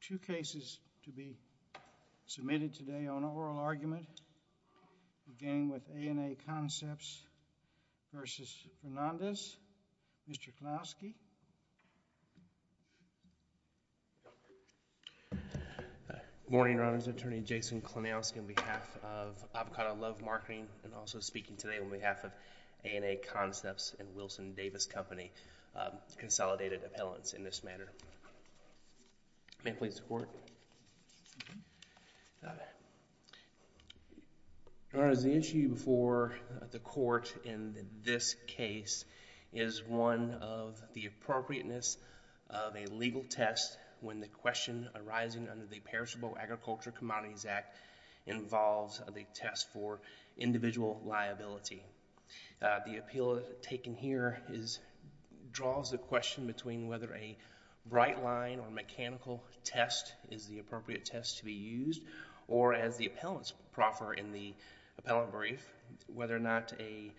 Two cases to be submitted today on oral argument, again with A & A Concepts v. Fernandez. Mr. Klonowski. Morning, Your Honors Attorney Jason Klonowski on behalf of Avocado Love Marketing and also speaking today on behalf of A & A Concepts and Wilson Davis Company, Consolidated Appellants in this matter. May it please the Court. Your Honors, the issue before the court in this case is one of the appropriateness of a legal test when the question arising under the Perishable Agriculture Commodities Act involves the test for individual liability. The appeal taken here is, draws a question between whether a right line or mechanical test is the appropriate test to be used or as the appellants proffer in the appellant brief, whether or not a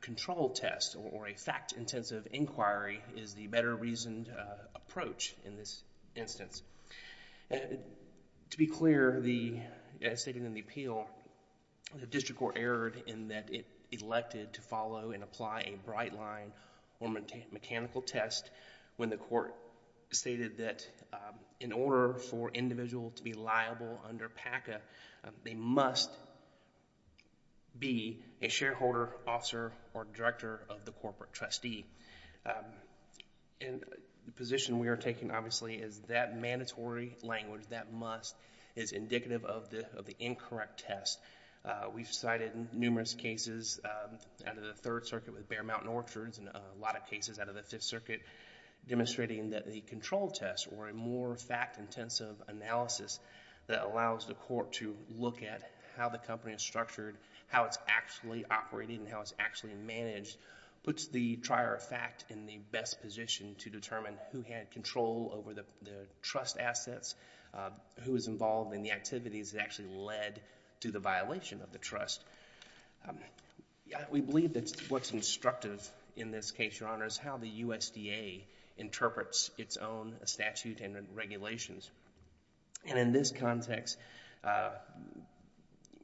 control test or a fact-intensive inquiry is the better reasoned approach in this case. The district court erred in that it elected to follow and apply a bright line or mechanical test when the court stated that in order for individual to be liable under PACA, they must be a shareholder, officer, or director of the corporate trustee. The position we are taking obviously is that mandatory language, that must, is indicative of the incorrect test. We've cited numerous cases out of the Third Circuit with Bear Mountain Orchards and a lot of cases out of the Fifth Circuit demonstrating that a control test or a more fact-intensive analysis that allows the court to look at how the company is structured, how it's actually operating and how it's actually managed, puts the trier of fact in the best position to determine who had control over the trust assets, who was involved in the activities that actually led to the violation of the trust. We believe that what's instructive in this case, Your Honor, is how the USDA interprets its own statute and regulations. And in this context,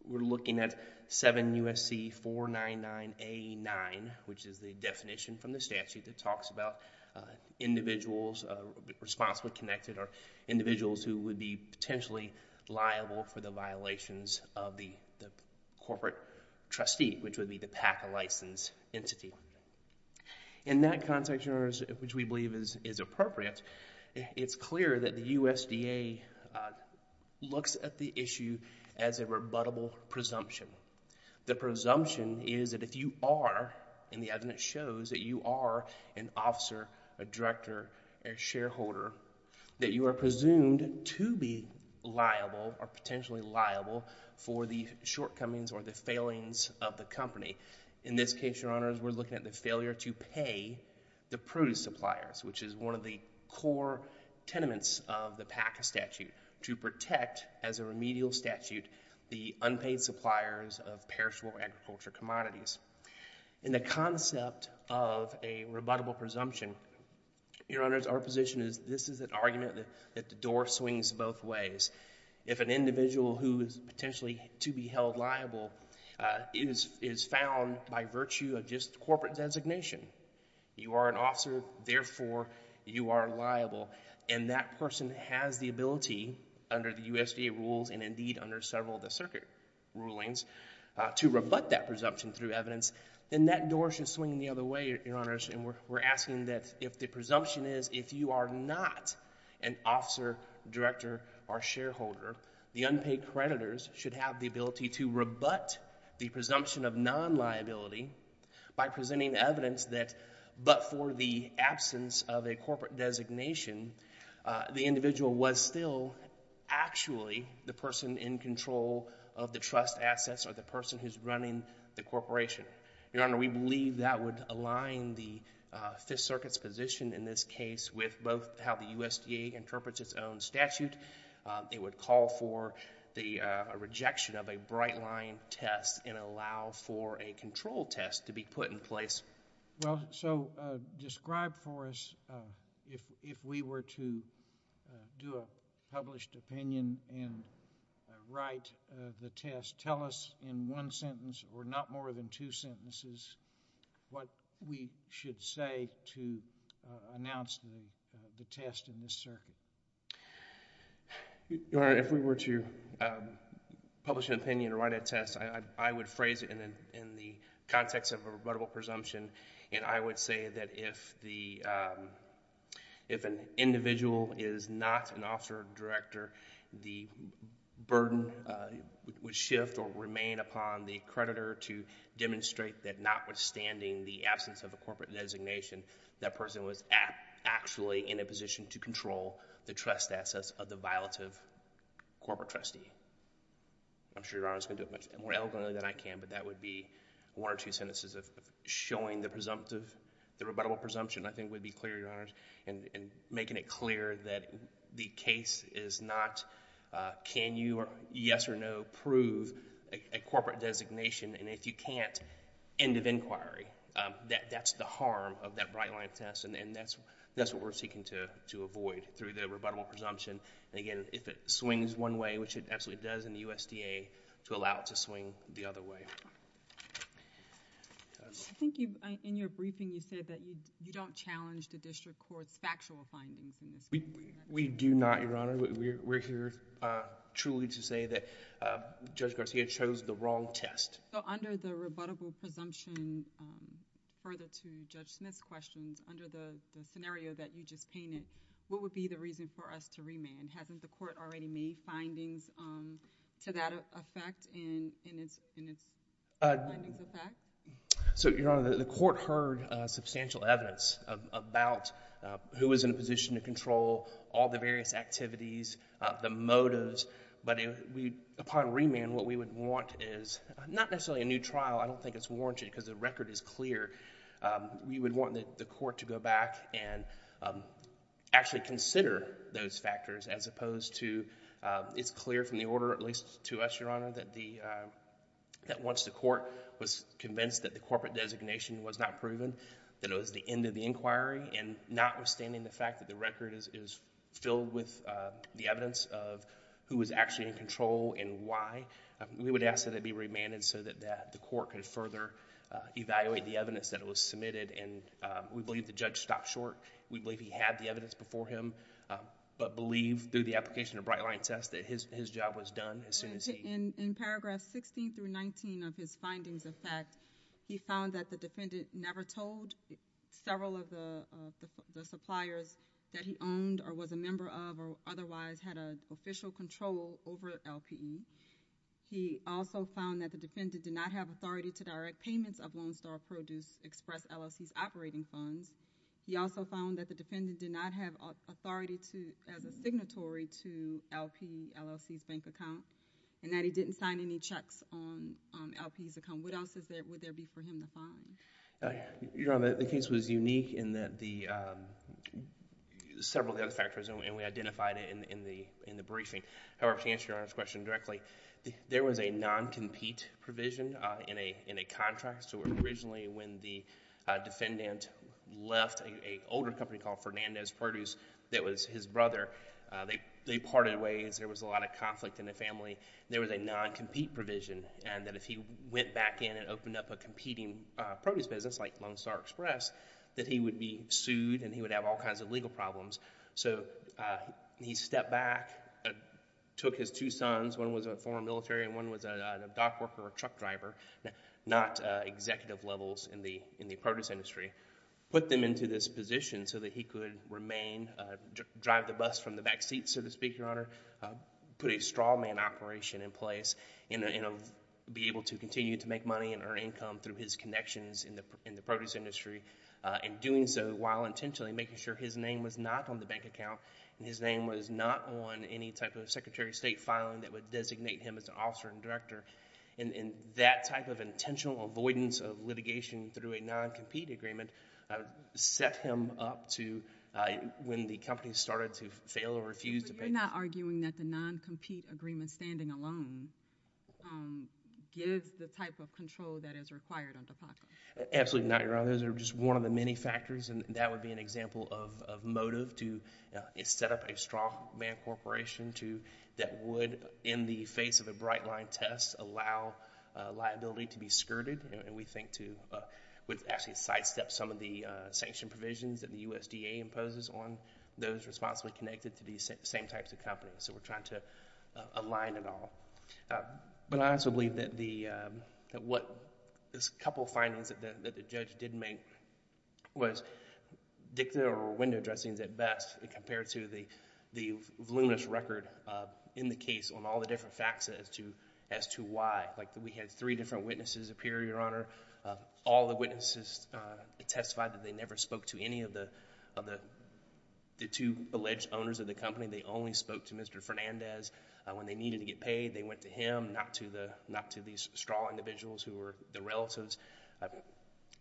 we're looking at section 499A9, which is the definition from the statute that talks about individuals, responsibly connected, or individuals who would be potentially liable for the violations of the corporate trustee, which would be the PACA license entity. In that context, Your Honor, which we believe is appropriate, it's clear that the USDA looks at the issue as a rebuttable presumption. The presumption is that if you are, and the evidence shows that you are an officer, a director, a shareholder, that you are presumed to be liable or potentially liable for the shortcomings or the failings of the company. In this case, Your Honors, we're looking at the failure to pay the produce suppliers, which is one of the core tenements of the PACA statute, to protect as a paid suppliers of perishable agriculture commodities. In the concept of a rebuttable presumption, Your Honors, our position is this is an argument that the door swings both ways. If an individual who is potentially to be held liable is found by virtue of just corporate designation, you are an officer, therefore you are liable, and that person has the ability under the USDA rules and indeed under several of the circuit rulings to rebut that presumption through evidence, then that door should swing the other way, Your Honors, and we're asking that if the presumption is if you are not an officer, director, or shareholder, the unpaid creditors should have the ability to rebut the presumption of non-liability by presenting evidence that but for the absence of a corporate designation, the person in control of the trust assets are the person who's running the corporation. Your Honor, we believe that would align the Fifth Circuit's position in this case with both how the USDA interprets its own statute. It would call for the rejection of a bright line test and allow for a control test to be put in place. Well, so describe for us if we were to do a published opinion and write the test, tell us in one sentence or not more than two sentences what we should say to announce the test in this circuit. Your Honor, if we were to publish an opinion or write a test, I would phrase it in the context of a rebuttable presumption, and I would say that if an individual is not an officer, director, the burden would shift or remain upon the creditor to demonstrate that notwithstanding the absence of a corporate designation, that person was actually in a position to control the trust assets of the violative corporate trustee. I'm sure Your Honor is going to do it much more eloquently than I can, but that would be one or two sentences of showing the presumptive, the rebuttable presumption, I think would be clear, Your Honor, and making it clear that the case is not can you, yes or no, prove a corporate designation, and if you can't, end of inquiry. That's the harm of that bright line test, and that's what we're seeking to avoid through the rebuttable presumption. Again, if it swings one way, which it absolutely does in the USDA, to allow it to swing the other way. I think in your briefing, you said that you don't challenge the district court's factual findings in this case. We do not, Your Honor. We're here truly to say that Judge Garcia chose the wrong test. Under the rebuttable presumption, further to Judge Smith's questions, under the scenario that you just painted, what would be the reason for us to remand? Hasn't the court already made findings to that effect, in its findings effect? Your Honor, the court heard substantial evidence about who was in a position to control all the various activities, the motives, but upon remand, what we would want is not necessarily a new trial. I don't think it's warranted, because the record is clear. We would want the court to go back and actually consider those factors, as opposed to, it's clear from the order, at least to us, Your Honor, that once the court was convinced that the corporate designation was not proven, that it was the end of the inquiry, and not withstanding the fact that the record is filled with the evidence of who was actually in control and why, we would ask that it be remanded so that the court can further evaluate the evidence that was submitted. We believe the judge stopped short. We believe he had the evidence before him, but believe through the application of bright-line test that his job was done as soon as he... In paragraph 16 through 19 of his findings effect, he found that the defendant never told several of the suppliers that he owned or was a member of or otherwise had an official control over LPE. He also found that the defendant did not have authority to direct payments of Lone Star Produce Express LLC's operating funds. He also found that the defendant did not have authority to... as a signatory to LPE LLC's bank account, and that he didn't sign any checks on LPE's account. What else would there be for him to find? Your Honor, the case was unique in that the... several other factors, and we identified it in the briefing. However, to answer Your Honor's question directly, there was a non-compete provision in a contract. Originally, when the defendant left an older company called Fernandez Produce that was his brother, they parted ways. There was a lot of conflict in the family. There was a non-compete provision, and that if he went back in and opened up a competing produce business like Lone Star Express, that he would be sued and he would have all kinds of legal problems. So, he stepped back, took his two sons. One was a former military and one was a dock worker or truck driver. Not executive levels in the produce industry. Put them into this position so that he could remain... drive the bus from the back seats, so to speak, Your Honor. Put a straw man operation in place, and be able to continue to make money and earn income through his connections in the produce industry. In doing so, while intentionally making sure his name was not on the bank account, and his name was not on any type of Secretary of State filing that would designate him as an officer and director, and that type of intentional avoidance of litigation through a non-compete agreement set him up to, when the company started to fail or refuse to pay... So, you're not arguing that the non-compete agreement standing alone gives the type of control that is required under PACA? Absolutely not, Your Honor. Those are just one of the many factors, and that would be an example of motive to set up a straw man corporation that would in the face of a bright line test allow liability to be skirted, and we think to... would actually sidestep some of the sanction provisions that the USDA imposes on those responsibly connected to these same types of companies. So, we're trying to align it all, but I also believe that what this couple findings that the judge did make was dicta or window dressings at best compared to the voluminous record in the case on all the different facts as to why. Like, we had three different witnesses appear, Your Honor. All the witnesses testified that they never spoke to any of the two alleged owners of the company. They only spoke to Mr. Fernandez. When they needed to get paid, they went to him, not to these straw individuals who were the relatives.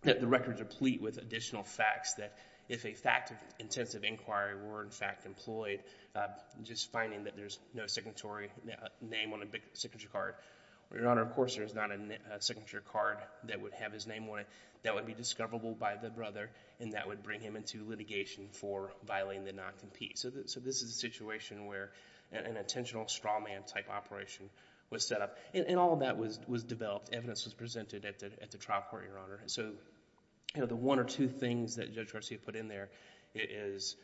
The records are pleat with additional facts that if a fact of intensive inquiry were, in fact, employed, just finding that there's no signatory name on a big signature card. Your Honor, of course, there's not a signature card that would have his name on it. That would be discoverable by the brother, and that would bring him into litigation for violating the non-compete. So, this is a situation where an intentional straw man type operation was set up, and all of that was developed. Evidence was presented at the trial court, Your Honor. So, the one or two things that Judge Garcia put in there is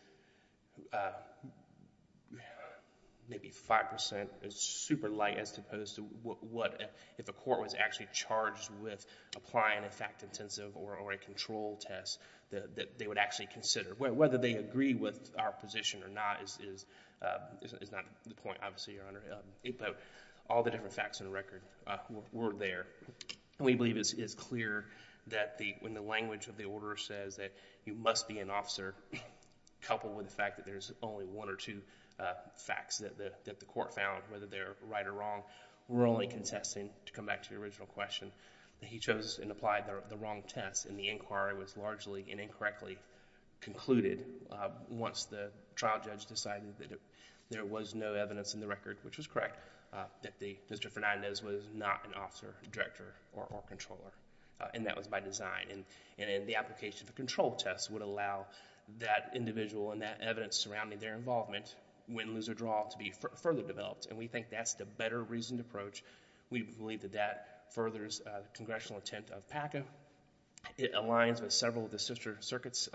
maybe 5% is super light as opposed to what, if a court was actually charged with applying a fact intensive or a control test, that they would actually consider. Whether they agree with our position or not is not the point, obviously, Your Honor. But all the different facts in the record were there. We believe it's clear that when the language of the order says that you must be an officer, coupled with the fact that there's only one or two facts that the court found, whether they're right or wrong, we're only contesting, to come back to the original question, that he chose and applied the wrong test, and the inquiry was largely and incorrectly concluded once the trial judge decided that there was no evidence in the record, which was correct, that Mr. Fernandez was not an officer, director, or controller, and that was by design. And the application of a control test would allow that individual and that evidence surrounding their involvement, win, lose, or draw, to be further developed. And we think that's the better reasoned approach. We believe that that furthers the congressional intent of PACA. It aligns with several of the sister circuits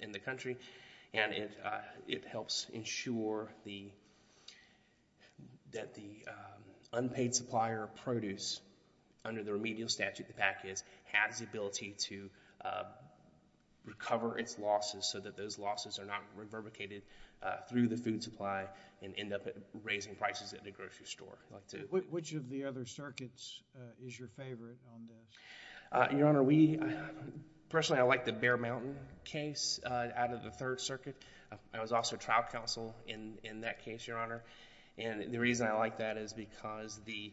in the country, and it helps ensure that the unpaid supplier of produce, under the remedial statute that we have, has the ability to recover its losses so that those losses are not reverbicated through the food supply and end up raising prices at the grocery store. Which of the other circuits is your favorite on this? Your Honor, we... personally, I like the Bear Mountain case out of the Third Circuit. I was also trial counsel in that case, Your Honor. And the reason I like that is because the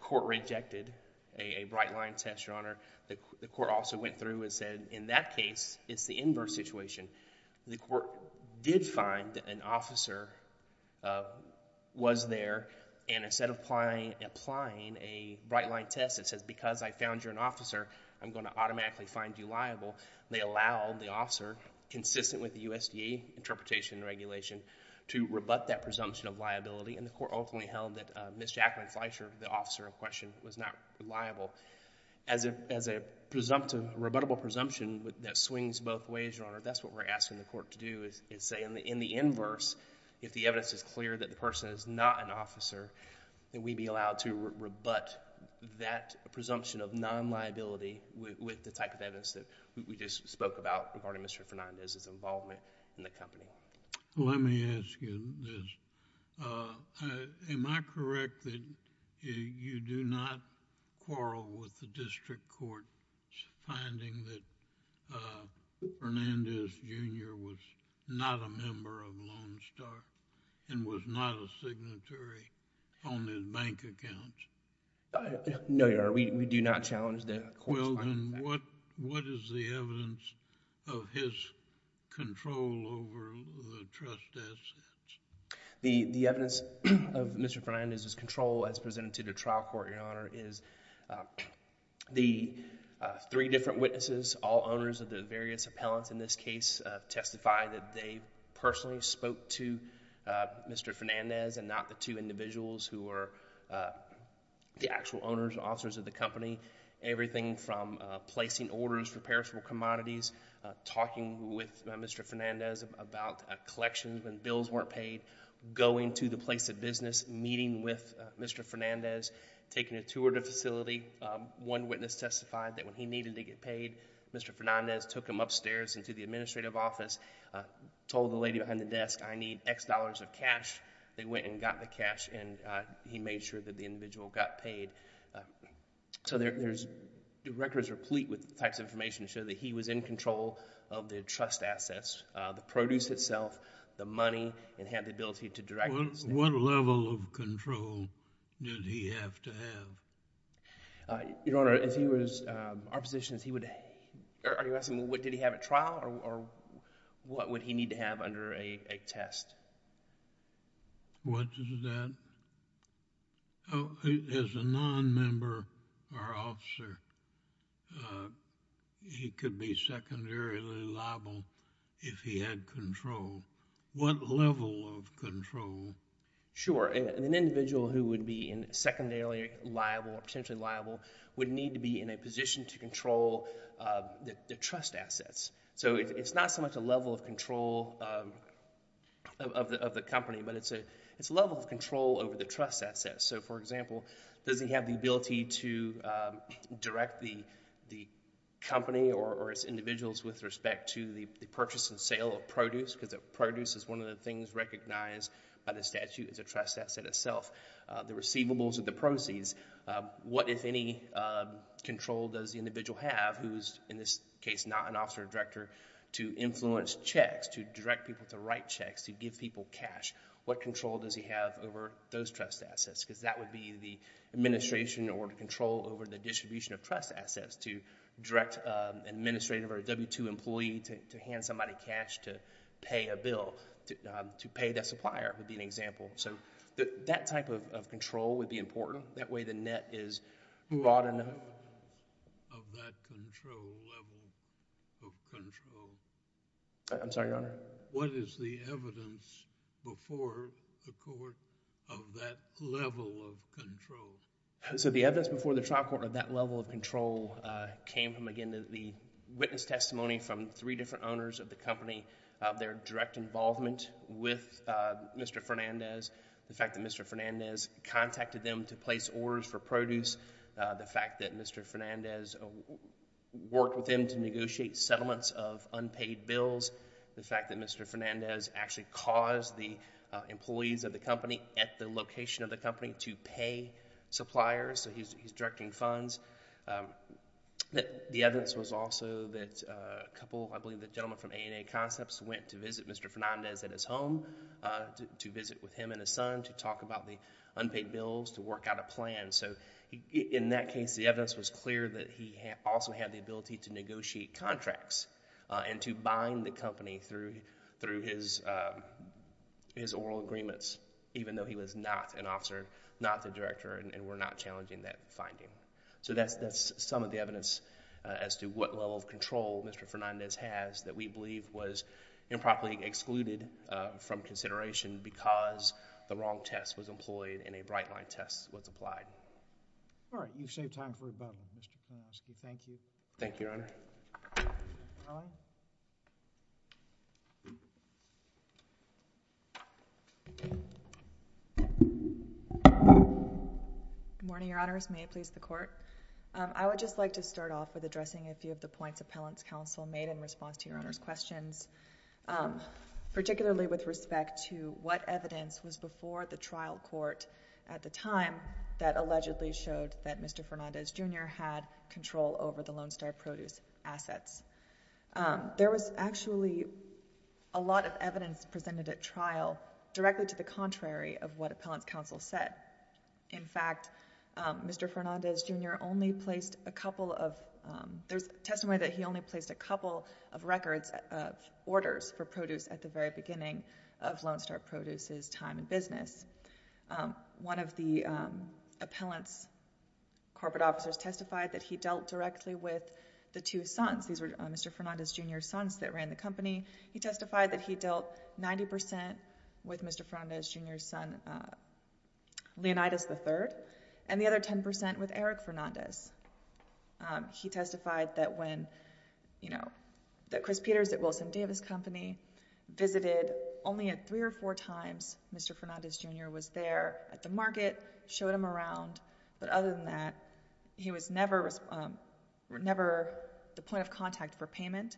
court rejected a bright line test, Your Honor. The court also went through and said, in that case, it's the inverse situation. The court did find that an officer was there, and instead of applying a bright line test that says, because I found you're an officer, I'm going to automatically find you liable, they allowed the officer, consistent with the USDA interpretation and regulation, to rebut that presumption of liability. And the court ultimately held that Ms. Jacqueline Fleisher, the presumptive, rebuttable presumption that swings both ways, Your Honor, that's what we're asking the court to do, is say in the inverse, if the evidence is clear that the person is not an officer, that we'd be allowed to rebut that presumption of non-liability with the type of evidence that we just spoke about regarding Mr. Fernandez's involvement in the company. Let me ask you this. Am I correct that you do not quarrel with the district court's finding that Fernandez Jr. was not a member of Lone Star and was not a signatory on his bank accounts? No, Your Honor, we do not challenge that. Well, then what is the evidence of his control over the trust assets? The evidence of Mr. Fernandez's control as presented to the trial court, Your Honor, is the three different witnesses, all owners of the various appellants in this case, testify that they personally spoke to Mr. Fernandez and not the two individuals who were the actual owners, officers of the company. Everything from placing orders for perishable commodities, talking with Mr. Fernandez about collections when bills weren't paid, going to the place of business, meeting with Mr. Fernandez, taking a tour of the facility. One witness testified that when he needed to get paid, Mr. Fernandez took him upstairs into the administrative office, told the lady behind the desk, I need X dollars of cash. They went and got the cash and he made sure that the individual got paid. So there's records replete with types of information to show that he was in control of the trust assets, the produce itself, the money, and had the ability to direct... What level of control did he have to have? Your Honor, if he was... our position is he would... are you asking what did he have at trial or what would he need to have under a test? What is that? As a non-member or officer, he could be secondarily liable if he had control. What level of control? Sure. An individual who would be in secondarily liable or potentially liable would need to be in a position to control the trust assets. So it's not so much a level of control of the company, but it's a level of control over the trust assets. So for example, does he have the ability to direct the company or its individuals with respect to the purchase and sale of produce, because produce is one of the things recognized by the statute as a trust asset itself, the receivables or the proceeds. What, if any, control does the individual have, who is in this case not an officer or director, to influence checks, to direct people to write checks, to give people cash? What control does he have over those trust assets? Because that would be the administration in order to control over the distribution of trust assets, to direct an administrative or a W-2 employee to hand somebody cash to pay a bill, to pay that supplier would be an example. So that type of control would be important. That way the net is brought in... What is the evidence of that control, level of control? I'm sorry, Your Honor? What is the evidence before the court of that level of control? So the evidence before the trial court of that level of control came from, again, the witness testimony from three different owners of the company, their direct involvement with Mr. Fernandez, the fact that Mr. Fernandez contacted them to place orders for produce, the fact that Mr. Fernandez worked with them to negotiate settlements of unpaid bills, the fact that Mr. Fernandez actually caused the employees of the company at the location of the company to pay suppliers, so he's directing funds. The evidence was also that a couple, I believe the gentleman from A&A Concepts, went to visit Mr. Fernandez at his home to visit with him and his son to talk about the unpaid bills, to work out a plan. So in that case, the evidence was clear that he also had the ability to negotiate contracts and to bind the company through his oral agreements, even though he was not an officer, not the director, and were not challenging that finding. So that's some of the evidence as to what level of control Mr. Fernandez has that we believe was improperly excluded from consideration because the wrong test was employed and a bright line test was applied. All right. You've saved time for rebuttal, Mr. Kornowski. Thank you. Thank you, Your Honor. Good morning, Your Honors. May it please the Court? I would just like to start off with addressing a few of the points Appellant's Counsel made in response to Your Honor's questions, particularly with respect to what evidence was before the trial court at the time that allegedly showed that Mr. Fernandez, Jr. had control over the Lone Star Produce assets. There was actually a lot of evidence presented at trial directly to the contrary of what Appellant's Counsel said. In fact, Mr. Fernandez, Jr. only placed a couple of—there's testimony that he only placed a couple of records of orders for produce at the very beginning of Lone Star Produce's time in business. One of the appellant's corporate officers testified that he dealt directly with the two sons. These were Mr. Fernandez, Jr.'s sons that ran the company. He testified that he dealt 90% with Mr. Fernandez, Jr.'s son, Leonidas III, and the other 10% with Eric Fernandez. He testified that when—that Chris Peters at Wilson Davis Company visited only three or four times Mr. Fernandez, Jr. was there at the market, showed him around, but other than that, he was never the point of contact for payment.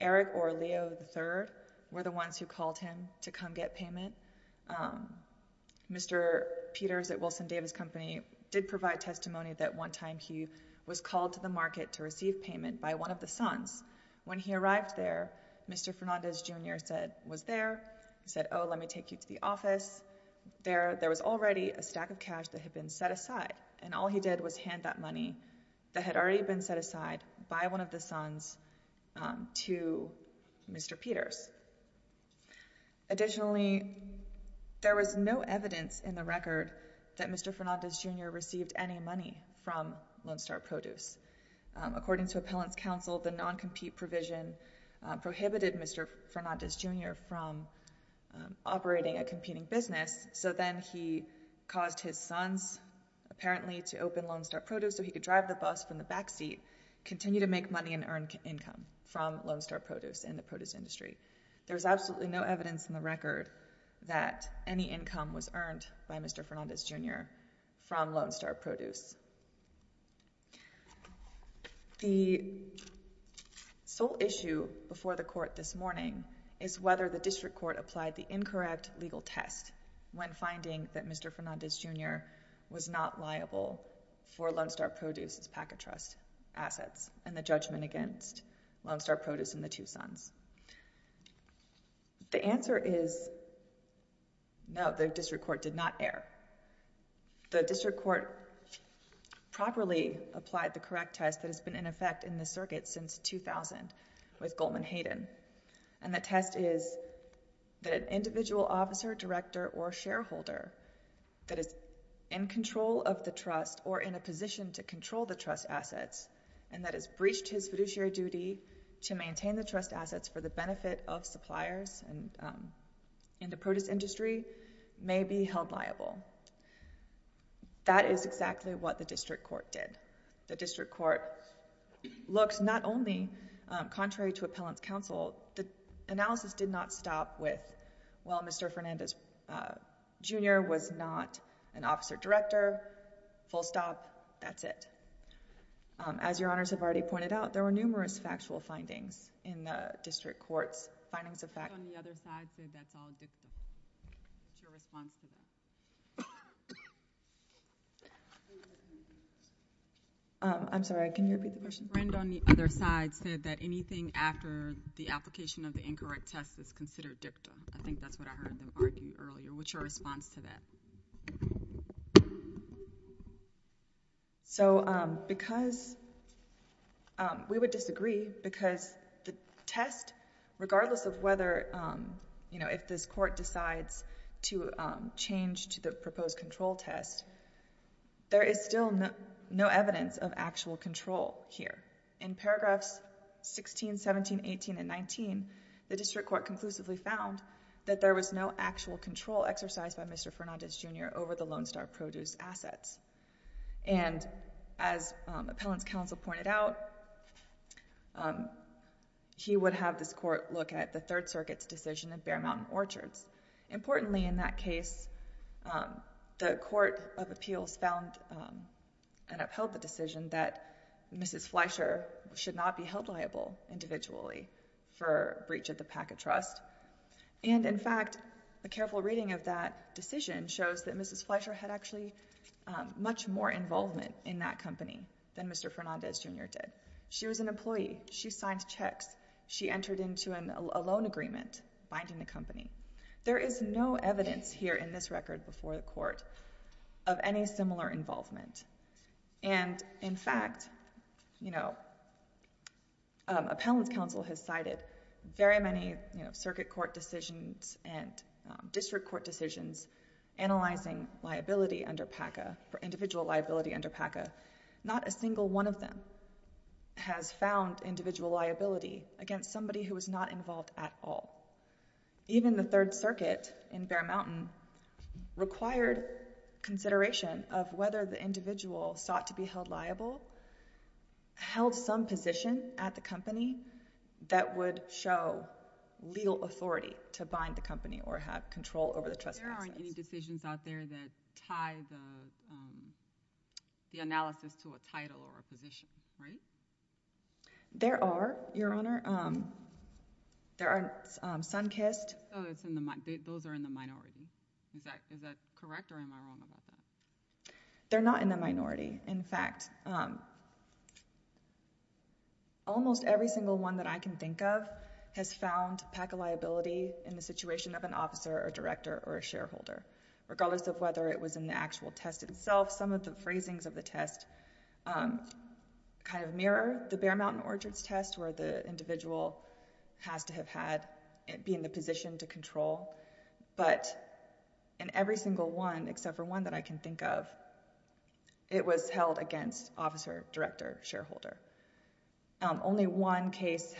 Eric or Leo III were the ones who called him to come get payment. Mr. Peters at Wilson Davis Company did provide testimony that one time he was called to the market to receive payment by one of the sons. When he arrived there, Mr. Fernandez, Jr. was there. He said, oh, let me take you to the office. There was already a stack of cash that had been set aside, and all he did was hand that money that had already been set aside by one of the sons to Mr. Peters. Additionally, there was no evidence in the record that Mr. Fernandez, Jr. received any money from Lone Star Produce. According to appellant's counsel, the non-compete provision prohibited Mr. Fernandez, Jr. from operating a company, caused his sons apparently to open Lone Star Produce so he could drive the bus from the backseat, continue to make money and earn income from Lone Star Produce and the produce industry. There's absolutely no evidence in the record that any income was earned by Mr. Fernandez, Jr. from Lone Star Produce. The sole issue before the court this morning is whether the district court properly applied the incorrect legal test when finding that Mr. Fernandez, Jr. was not liable for Lone Star Produce's Packet Trust assets and the judgment against Lone Star Produce and the two sons. The answer is no, the district court did not err. The district court properly applied the correct test that has been in effect in the circuit since 2000 with Goldman Hayden and the test is that an individual officer, director or shareholder that is in control of the trust or in a position to control the trust assets and that has breached his fiduciary duty to maintain the trust assets for the benefit of suppliers and the produce industry may be held liable. That is exactly what the district court did. The district court looks not only contrary to appellant's counsel, the analysis did not stop with, well, Mr. Fernandez, Jr. was not an officer director, full stop, that's it. As Your Honors have already pointed out, there were numerous factual findings in the district court's findings of fact... I'm sorry, can you repeat the question? The friend on the other side said that anything after the application of the incorrect test is considered dicta. I think that's what I heard them argue earlier. What's your response to that? So, because... we would disagree because the test, regardless of whether, you know, if this court decides to change to the proposed control test, there is still no evidence of actual control here. In paragraphs 16, 17, 18, and 19, the district court conclusively found that there was no actual control exercised by Mr. Fernandez, Jr. over the Lone Star Produce assets. And as appellant's counsel pointed out, he would have this court look at the Third Circuit's decision in Bear Mountain Orchards. Importantly, in that case, the court of the decision that Mrs. Fleischer should not be held liable individually for breach of the Packett Trust. And, in fact, a careful reading of that decision shows that Mrs. Fleischer had actually much more involvement in that company than Mr. Fernandez, Jr. did. She was an employee. She signed checks. She entered into a loan agreement binding the company. There is no evidence here in this record before the court of any similar involvement. And, in fact, you know, appellant's counsel has cited very many, you know, circuit court decisions and district court decisions analyzing liability under PACA, individual liability under PACA. Not a single one of them has found individual liability against somebody who was not involved at all. Even the Third Circuit in Bear Mountain Orchards required consideration of whether the individual sought to be held liable held some position at the company that would show legal authority to bind the company or have control over the trust process. There aren't any decisions out there that tie the analysis to a title or a position, right? There are, Your Honor. There are Sunkist. Those are in the minority. Is that correct or am I wrong about that? They're not in the minority. In fact, almost every single one that I can think of has found PACA liability in the situation of an officer or director or a shareholder, regardless of whether it was in the actual test itself. Some of the phrasings of the test kind of mirror the Bear Mountain Orchards test where the individual has to have had, be in the position to control, but in every single one except for one that I can think of, it was held against officer, director, shareholder. Only one case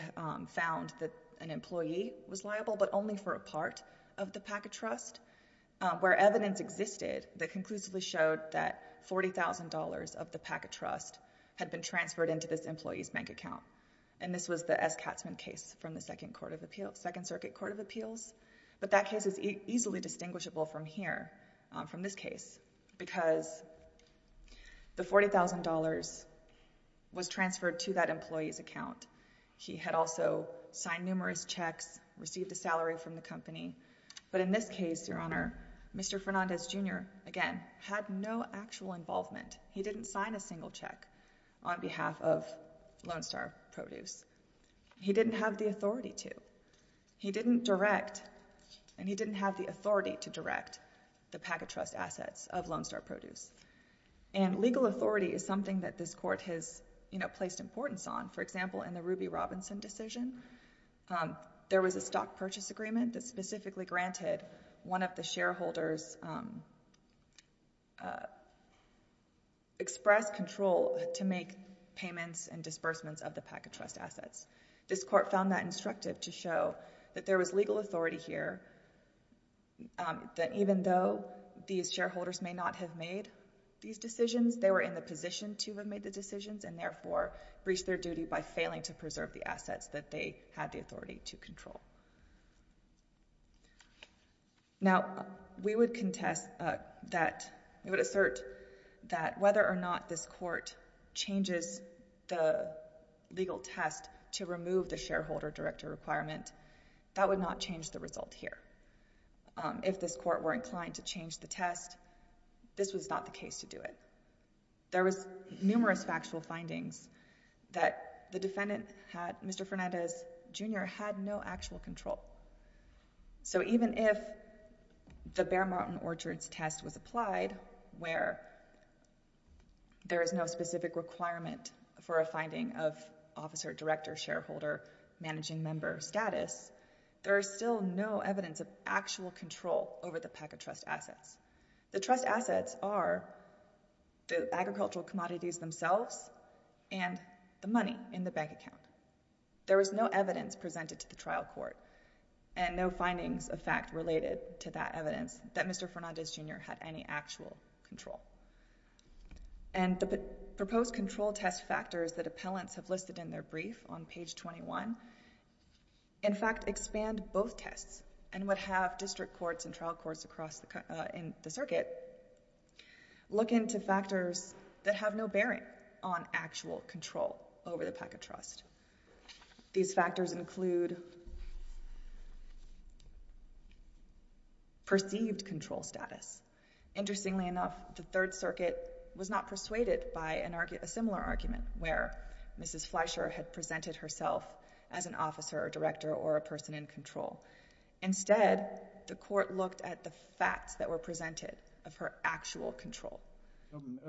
found that an employee was liable but only for a part of the PACA trust where evidence existed that conclusively showed that $40,000 of the $40,000 was the Eskatzman case from the Second Circuit Court of Appeals. But that case is easily distinguishable from here, from this case, because the $40,000 was transferred to that employee's account. He had also signed numerous checks, received a salary from the company. But in this case, Your Honor, Mr. Fernandez, Jr., again, had no actual involvement. He didn't sign a single check on behalf of Lone Star Produce. He didn't have the authority to. He didn't direct and he didn't have the authority to direct the PACA trust assets of Lone Star Produce. And legal authority is something that this court has placed importance on. For example, in the Ruby Robinson decision, there was a stock purchase agreement that specifically granted one of the shareholders express control to make payments and disbursements of the PACA trust assets. This court found that instructive to show that there was legal authority here, that even though these shareholders may not have made these decisions, they were in the position to have made the decisions and, therefore, breached their duty by failing to comply. Now, we would assert that whether or not this court changes the legal test to remove the shareholder director requirement, that would not change the result here. If this court were inclined to change the test, this was not the case to do it. There was numerous factual findings that the defendant, Mr. Fernandez, Jr., had no actual control. So even if the Bear Mountain Orchards test was applied, where there is no specific requirement for a finding of officer, director, shareholder, managing member status, there is still no evidence of actual control over the PACA trust assets. The trust assets are the agricultural commodities themselves and the money in the bank account. There was no evidence presented to the trial court and no findings of fact related to that evidence that Mr. Fernandez, Jr. had any actual control. And the proposed control test factors that appellants have listed in their brief on page 21, in fact, expand both tests and would have district courts and trial courts across the circuit look into factors that have no bearing on actual control over the PACA trust. These factors include perceived control status. Interestingly enough, the Third Circuit was not persuaded by a similar argument where Mrs. Fleischer had presented herself as an officer, director, or a person in control. Instead, the court looked at the facts that were presented of her actual control.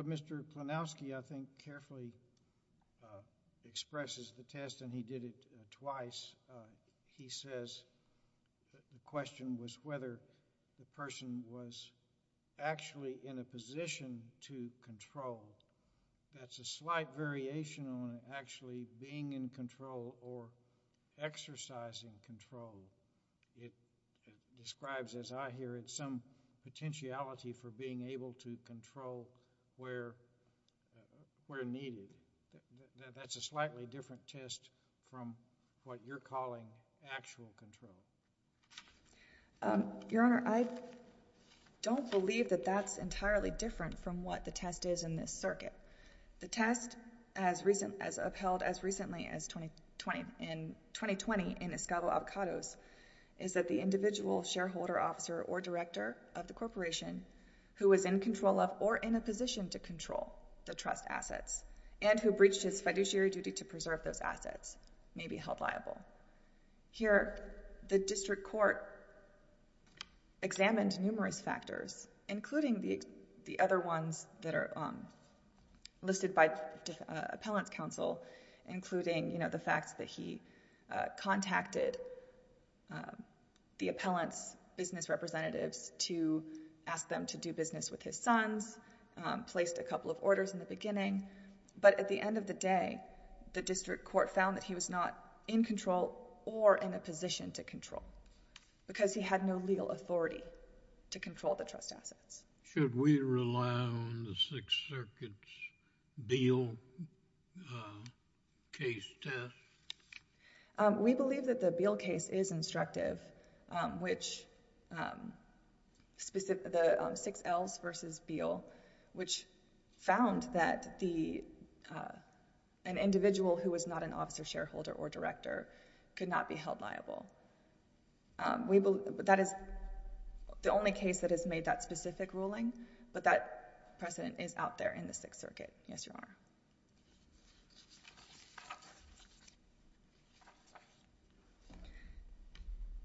Mr. Klonowski, I think, carefully expresses the test and he did it twice. He says the question was whether the person was actually in a position to control. That's a slight variation on actually being in control or exercising control. It doesn't tell where needed. That's a slightly different test from what you're calling actual control. Your Honor, I don't believe that that's entirely different from what the test is in this circuit. The test, as upheld as recently as 2020 in Escobar-Avocados, is that the individual shareholder officer or director of the corporation who is in control of or in a position to control the trust assets and who breached his fiduciary duty to preserve those assets may be held liable. Here, the district court examined numerous factors, including the other ones that are listed by appellant's counsel, including the fact that he contacted the funds, placed a couple of orders in the beginning, but at the end of the day, the district court found that he was not in control or in a position to control because he had no legal authority to control the trust assets. Should we rely on the Sixth Circuit's Beal case test? We believe that the Beal case is instructive, which... the 6Ls versus Beal, which found that an individual who was not an officer shareholder or director could not be held liable. That is the only case that has made that specific ruling, but that precedent is out there in the Sixth Circuit. Yes, Your Honor.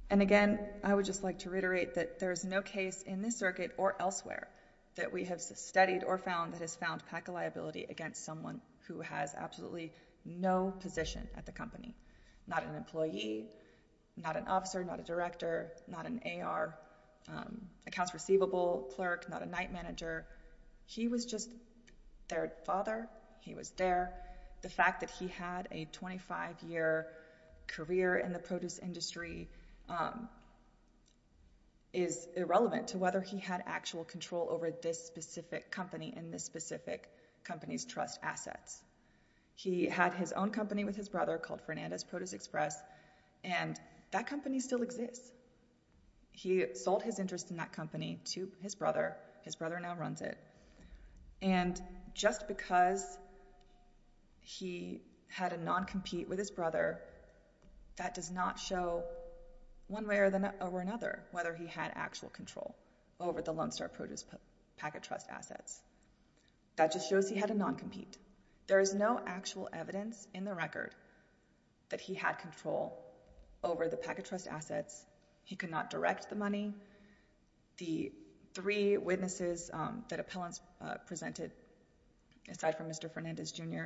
And again, I would just like to reiterate that there is no case in this circuit or elsewhere that we have studied or found that has found PACA liability against someone who has absolutely no position at the company. Not an employee, not an officer, not a director, not an AR, accounts receivable clerk, not a night manager. He was just their father. He was there. The fact that he had a 25-year career in the produce industry is irrelevant to whether he had actual control over this specific company and this specific company's trust assets. He had his own company with his brother called Fernandez Produce Express, and that company still exists. He sold his interest in that company to his brother. His brother now runs it. And just because he had a non-compete with his brother, that does not show one way or another whether he had actual control over the Lone Star Produce PACA trust assets. That just shows he had a non-compete. There is no actual evidence in the record that he had control over the PACA trust assets. He could not direct the money. The three witnesses that appellants presented, aside from Mr. Fernandez Jr.,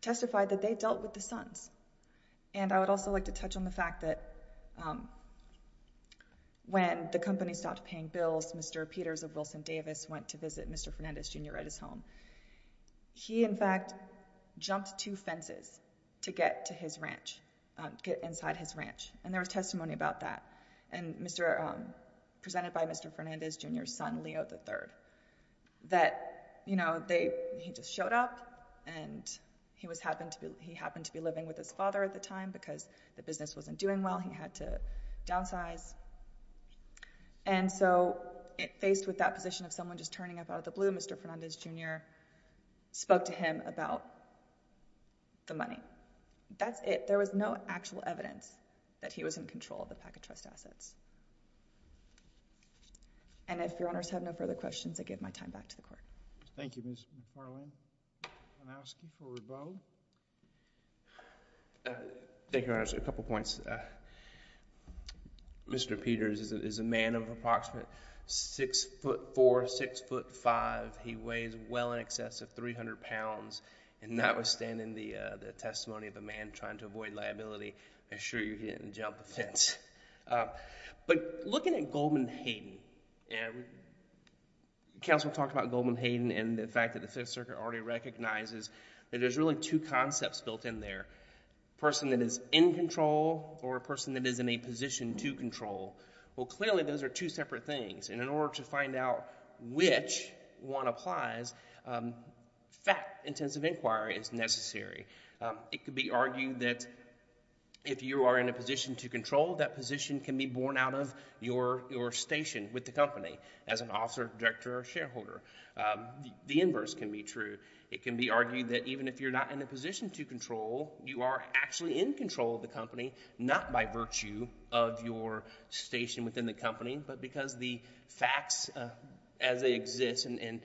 testified that they dealt with the sons. And I would also like to touch on the fact that when the company stopped paying bills, Mr. Peters of Wilson Davis went to visit Mr. Fernandez Jr. at his home. He, in fact, jumped two fences to get inside his ranch, and there was testimony about that. Presented by Mr. Fernandez Jr.'s son, Leo III, that he just showed up, and he happened to be living with his father at the time because the business wasn't doing well. He had to downsize. And so faced with that position of someone just turning up out of the blue, Mr. Fernandez Jr. spoke to him about the money. That's it. There was no actual evidence that he was in control of the PACA trust assets. And if Your Honors have no further questions, I give my time back to the Court. Thank you, Ms. McFarlane. I'm going to ask you for rebuttal. Thank you, Your Honors. A couple points. Mr. Peters is a man of approximate 6'4", 6'5". He weighs well in excess of 300 pounds, and notwithstanding the testimony of a man trying to avoid liability, I assure you he didn't jump the fence. But looking at Goldman Hayden, counsel talked about Goldman Hayden and the fact that the Fifth Circuit already recognizes that there's really two concepts built in there, a person that is in control or a person that is in a position to control. Well, clearly those are two separate things, and in order to find out which one applies, fact-intensive inquiry is necessary. It could be argued that if you are in a position to control, that position can be borne out of your station with the company as an officer, director, or shareholder. The inverse can be true. It can be argued that even if you're not in a position to control, you are actually in control of the company, not by virtue of your station within the company, but because the facts as they exist and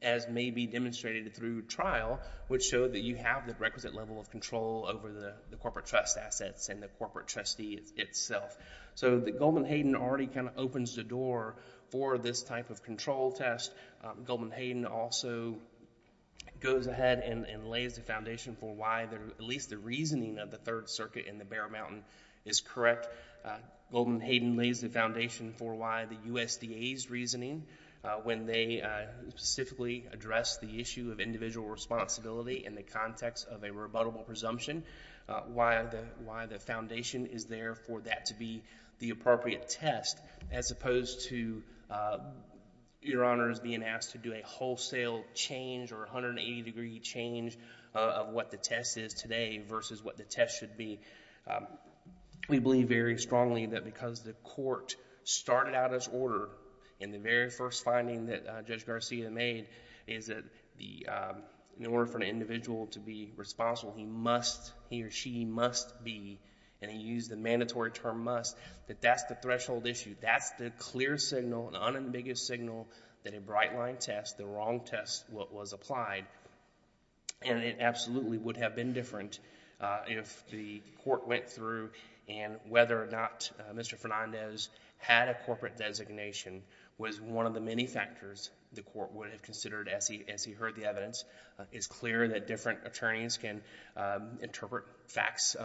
as may be demonstrated through trial would show that you have the requisite level of control over the corporate trust assets and the corporate trustee itself. So that Goldman Hayden already kind of opens the door for this type of control test. Goldman Hayden also goes ahead and lays the foundation for why at least the reasoning of the Third Circuit and the Bear Mountain is correct. Goldman Hayden lays the foundation for why the USDA's reasoning when they specifically address the issue of individual responsibility in the context of a rebuttable presumption, why the foundation is there for that to be the appropriate test as opposed to your honors being asked to do a wholesale change or 180-degree change of what the test is today versus what the test should be. We believe very strongly that because the court started out its order and the very first finding that Judge Garcia made is that in order for an individual to be responsible, he must, he or she must be, and he used the mandatory term must, that that's the threshold issue. That's the clear signal, the unambiguous signal that a bright line test, the wrong test was applied, and it absolutely would have been different if the court went through and whether or not Mr. Fernandez had a corporate designation was one of the many factors the court would have considered as he heard the evidence. It's clear that different attorneys can interpret facts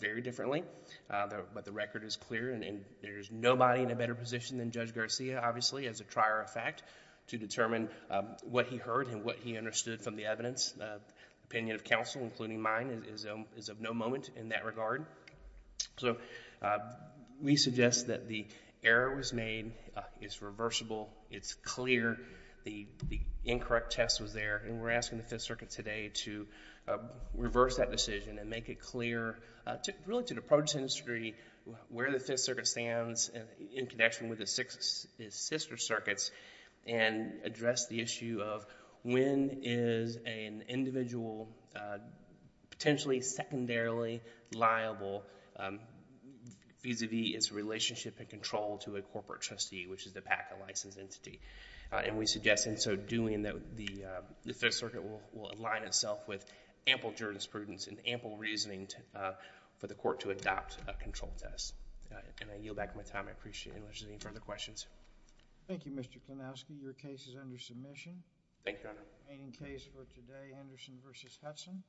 very differently, but the record is clear, and there's nobody in a better position than Judge Garcia, obviously, as a trier of fact to determine what he heard and what he understood from the evidence. The opinion of counsel, including mine, is of no moment in that regard. So we suggest that the error was made. It's reversible. It's clear. The incorrect test was there, and we're asking the Fifth Circuit today to reverse that decision and make it clear really to the produce industry where the Fifth Circuit stands in connection with its sister circuits and address the issue of when is an individual potentially secondarily liable vis-à-vis its relationship and control to a corporate trustee, which is the PACA licensed entity. And we suggest in so doing that the Fifth Circuit will align itself with ample jurisprudence and ample reasoning for the court to adopt a control test. And I yield back my time. I appreciate it unless there's any further questions. Thank you, Mr. Klonowski. Your case is under submission. Thank you, Your Honor. Remaining case for today, Henderson v. Hudson.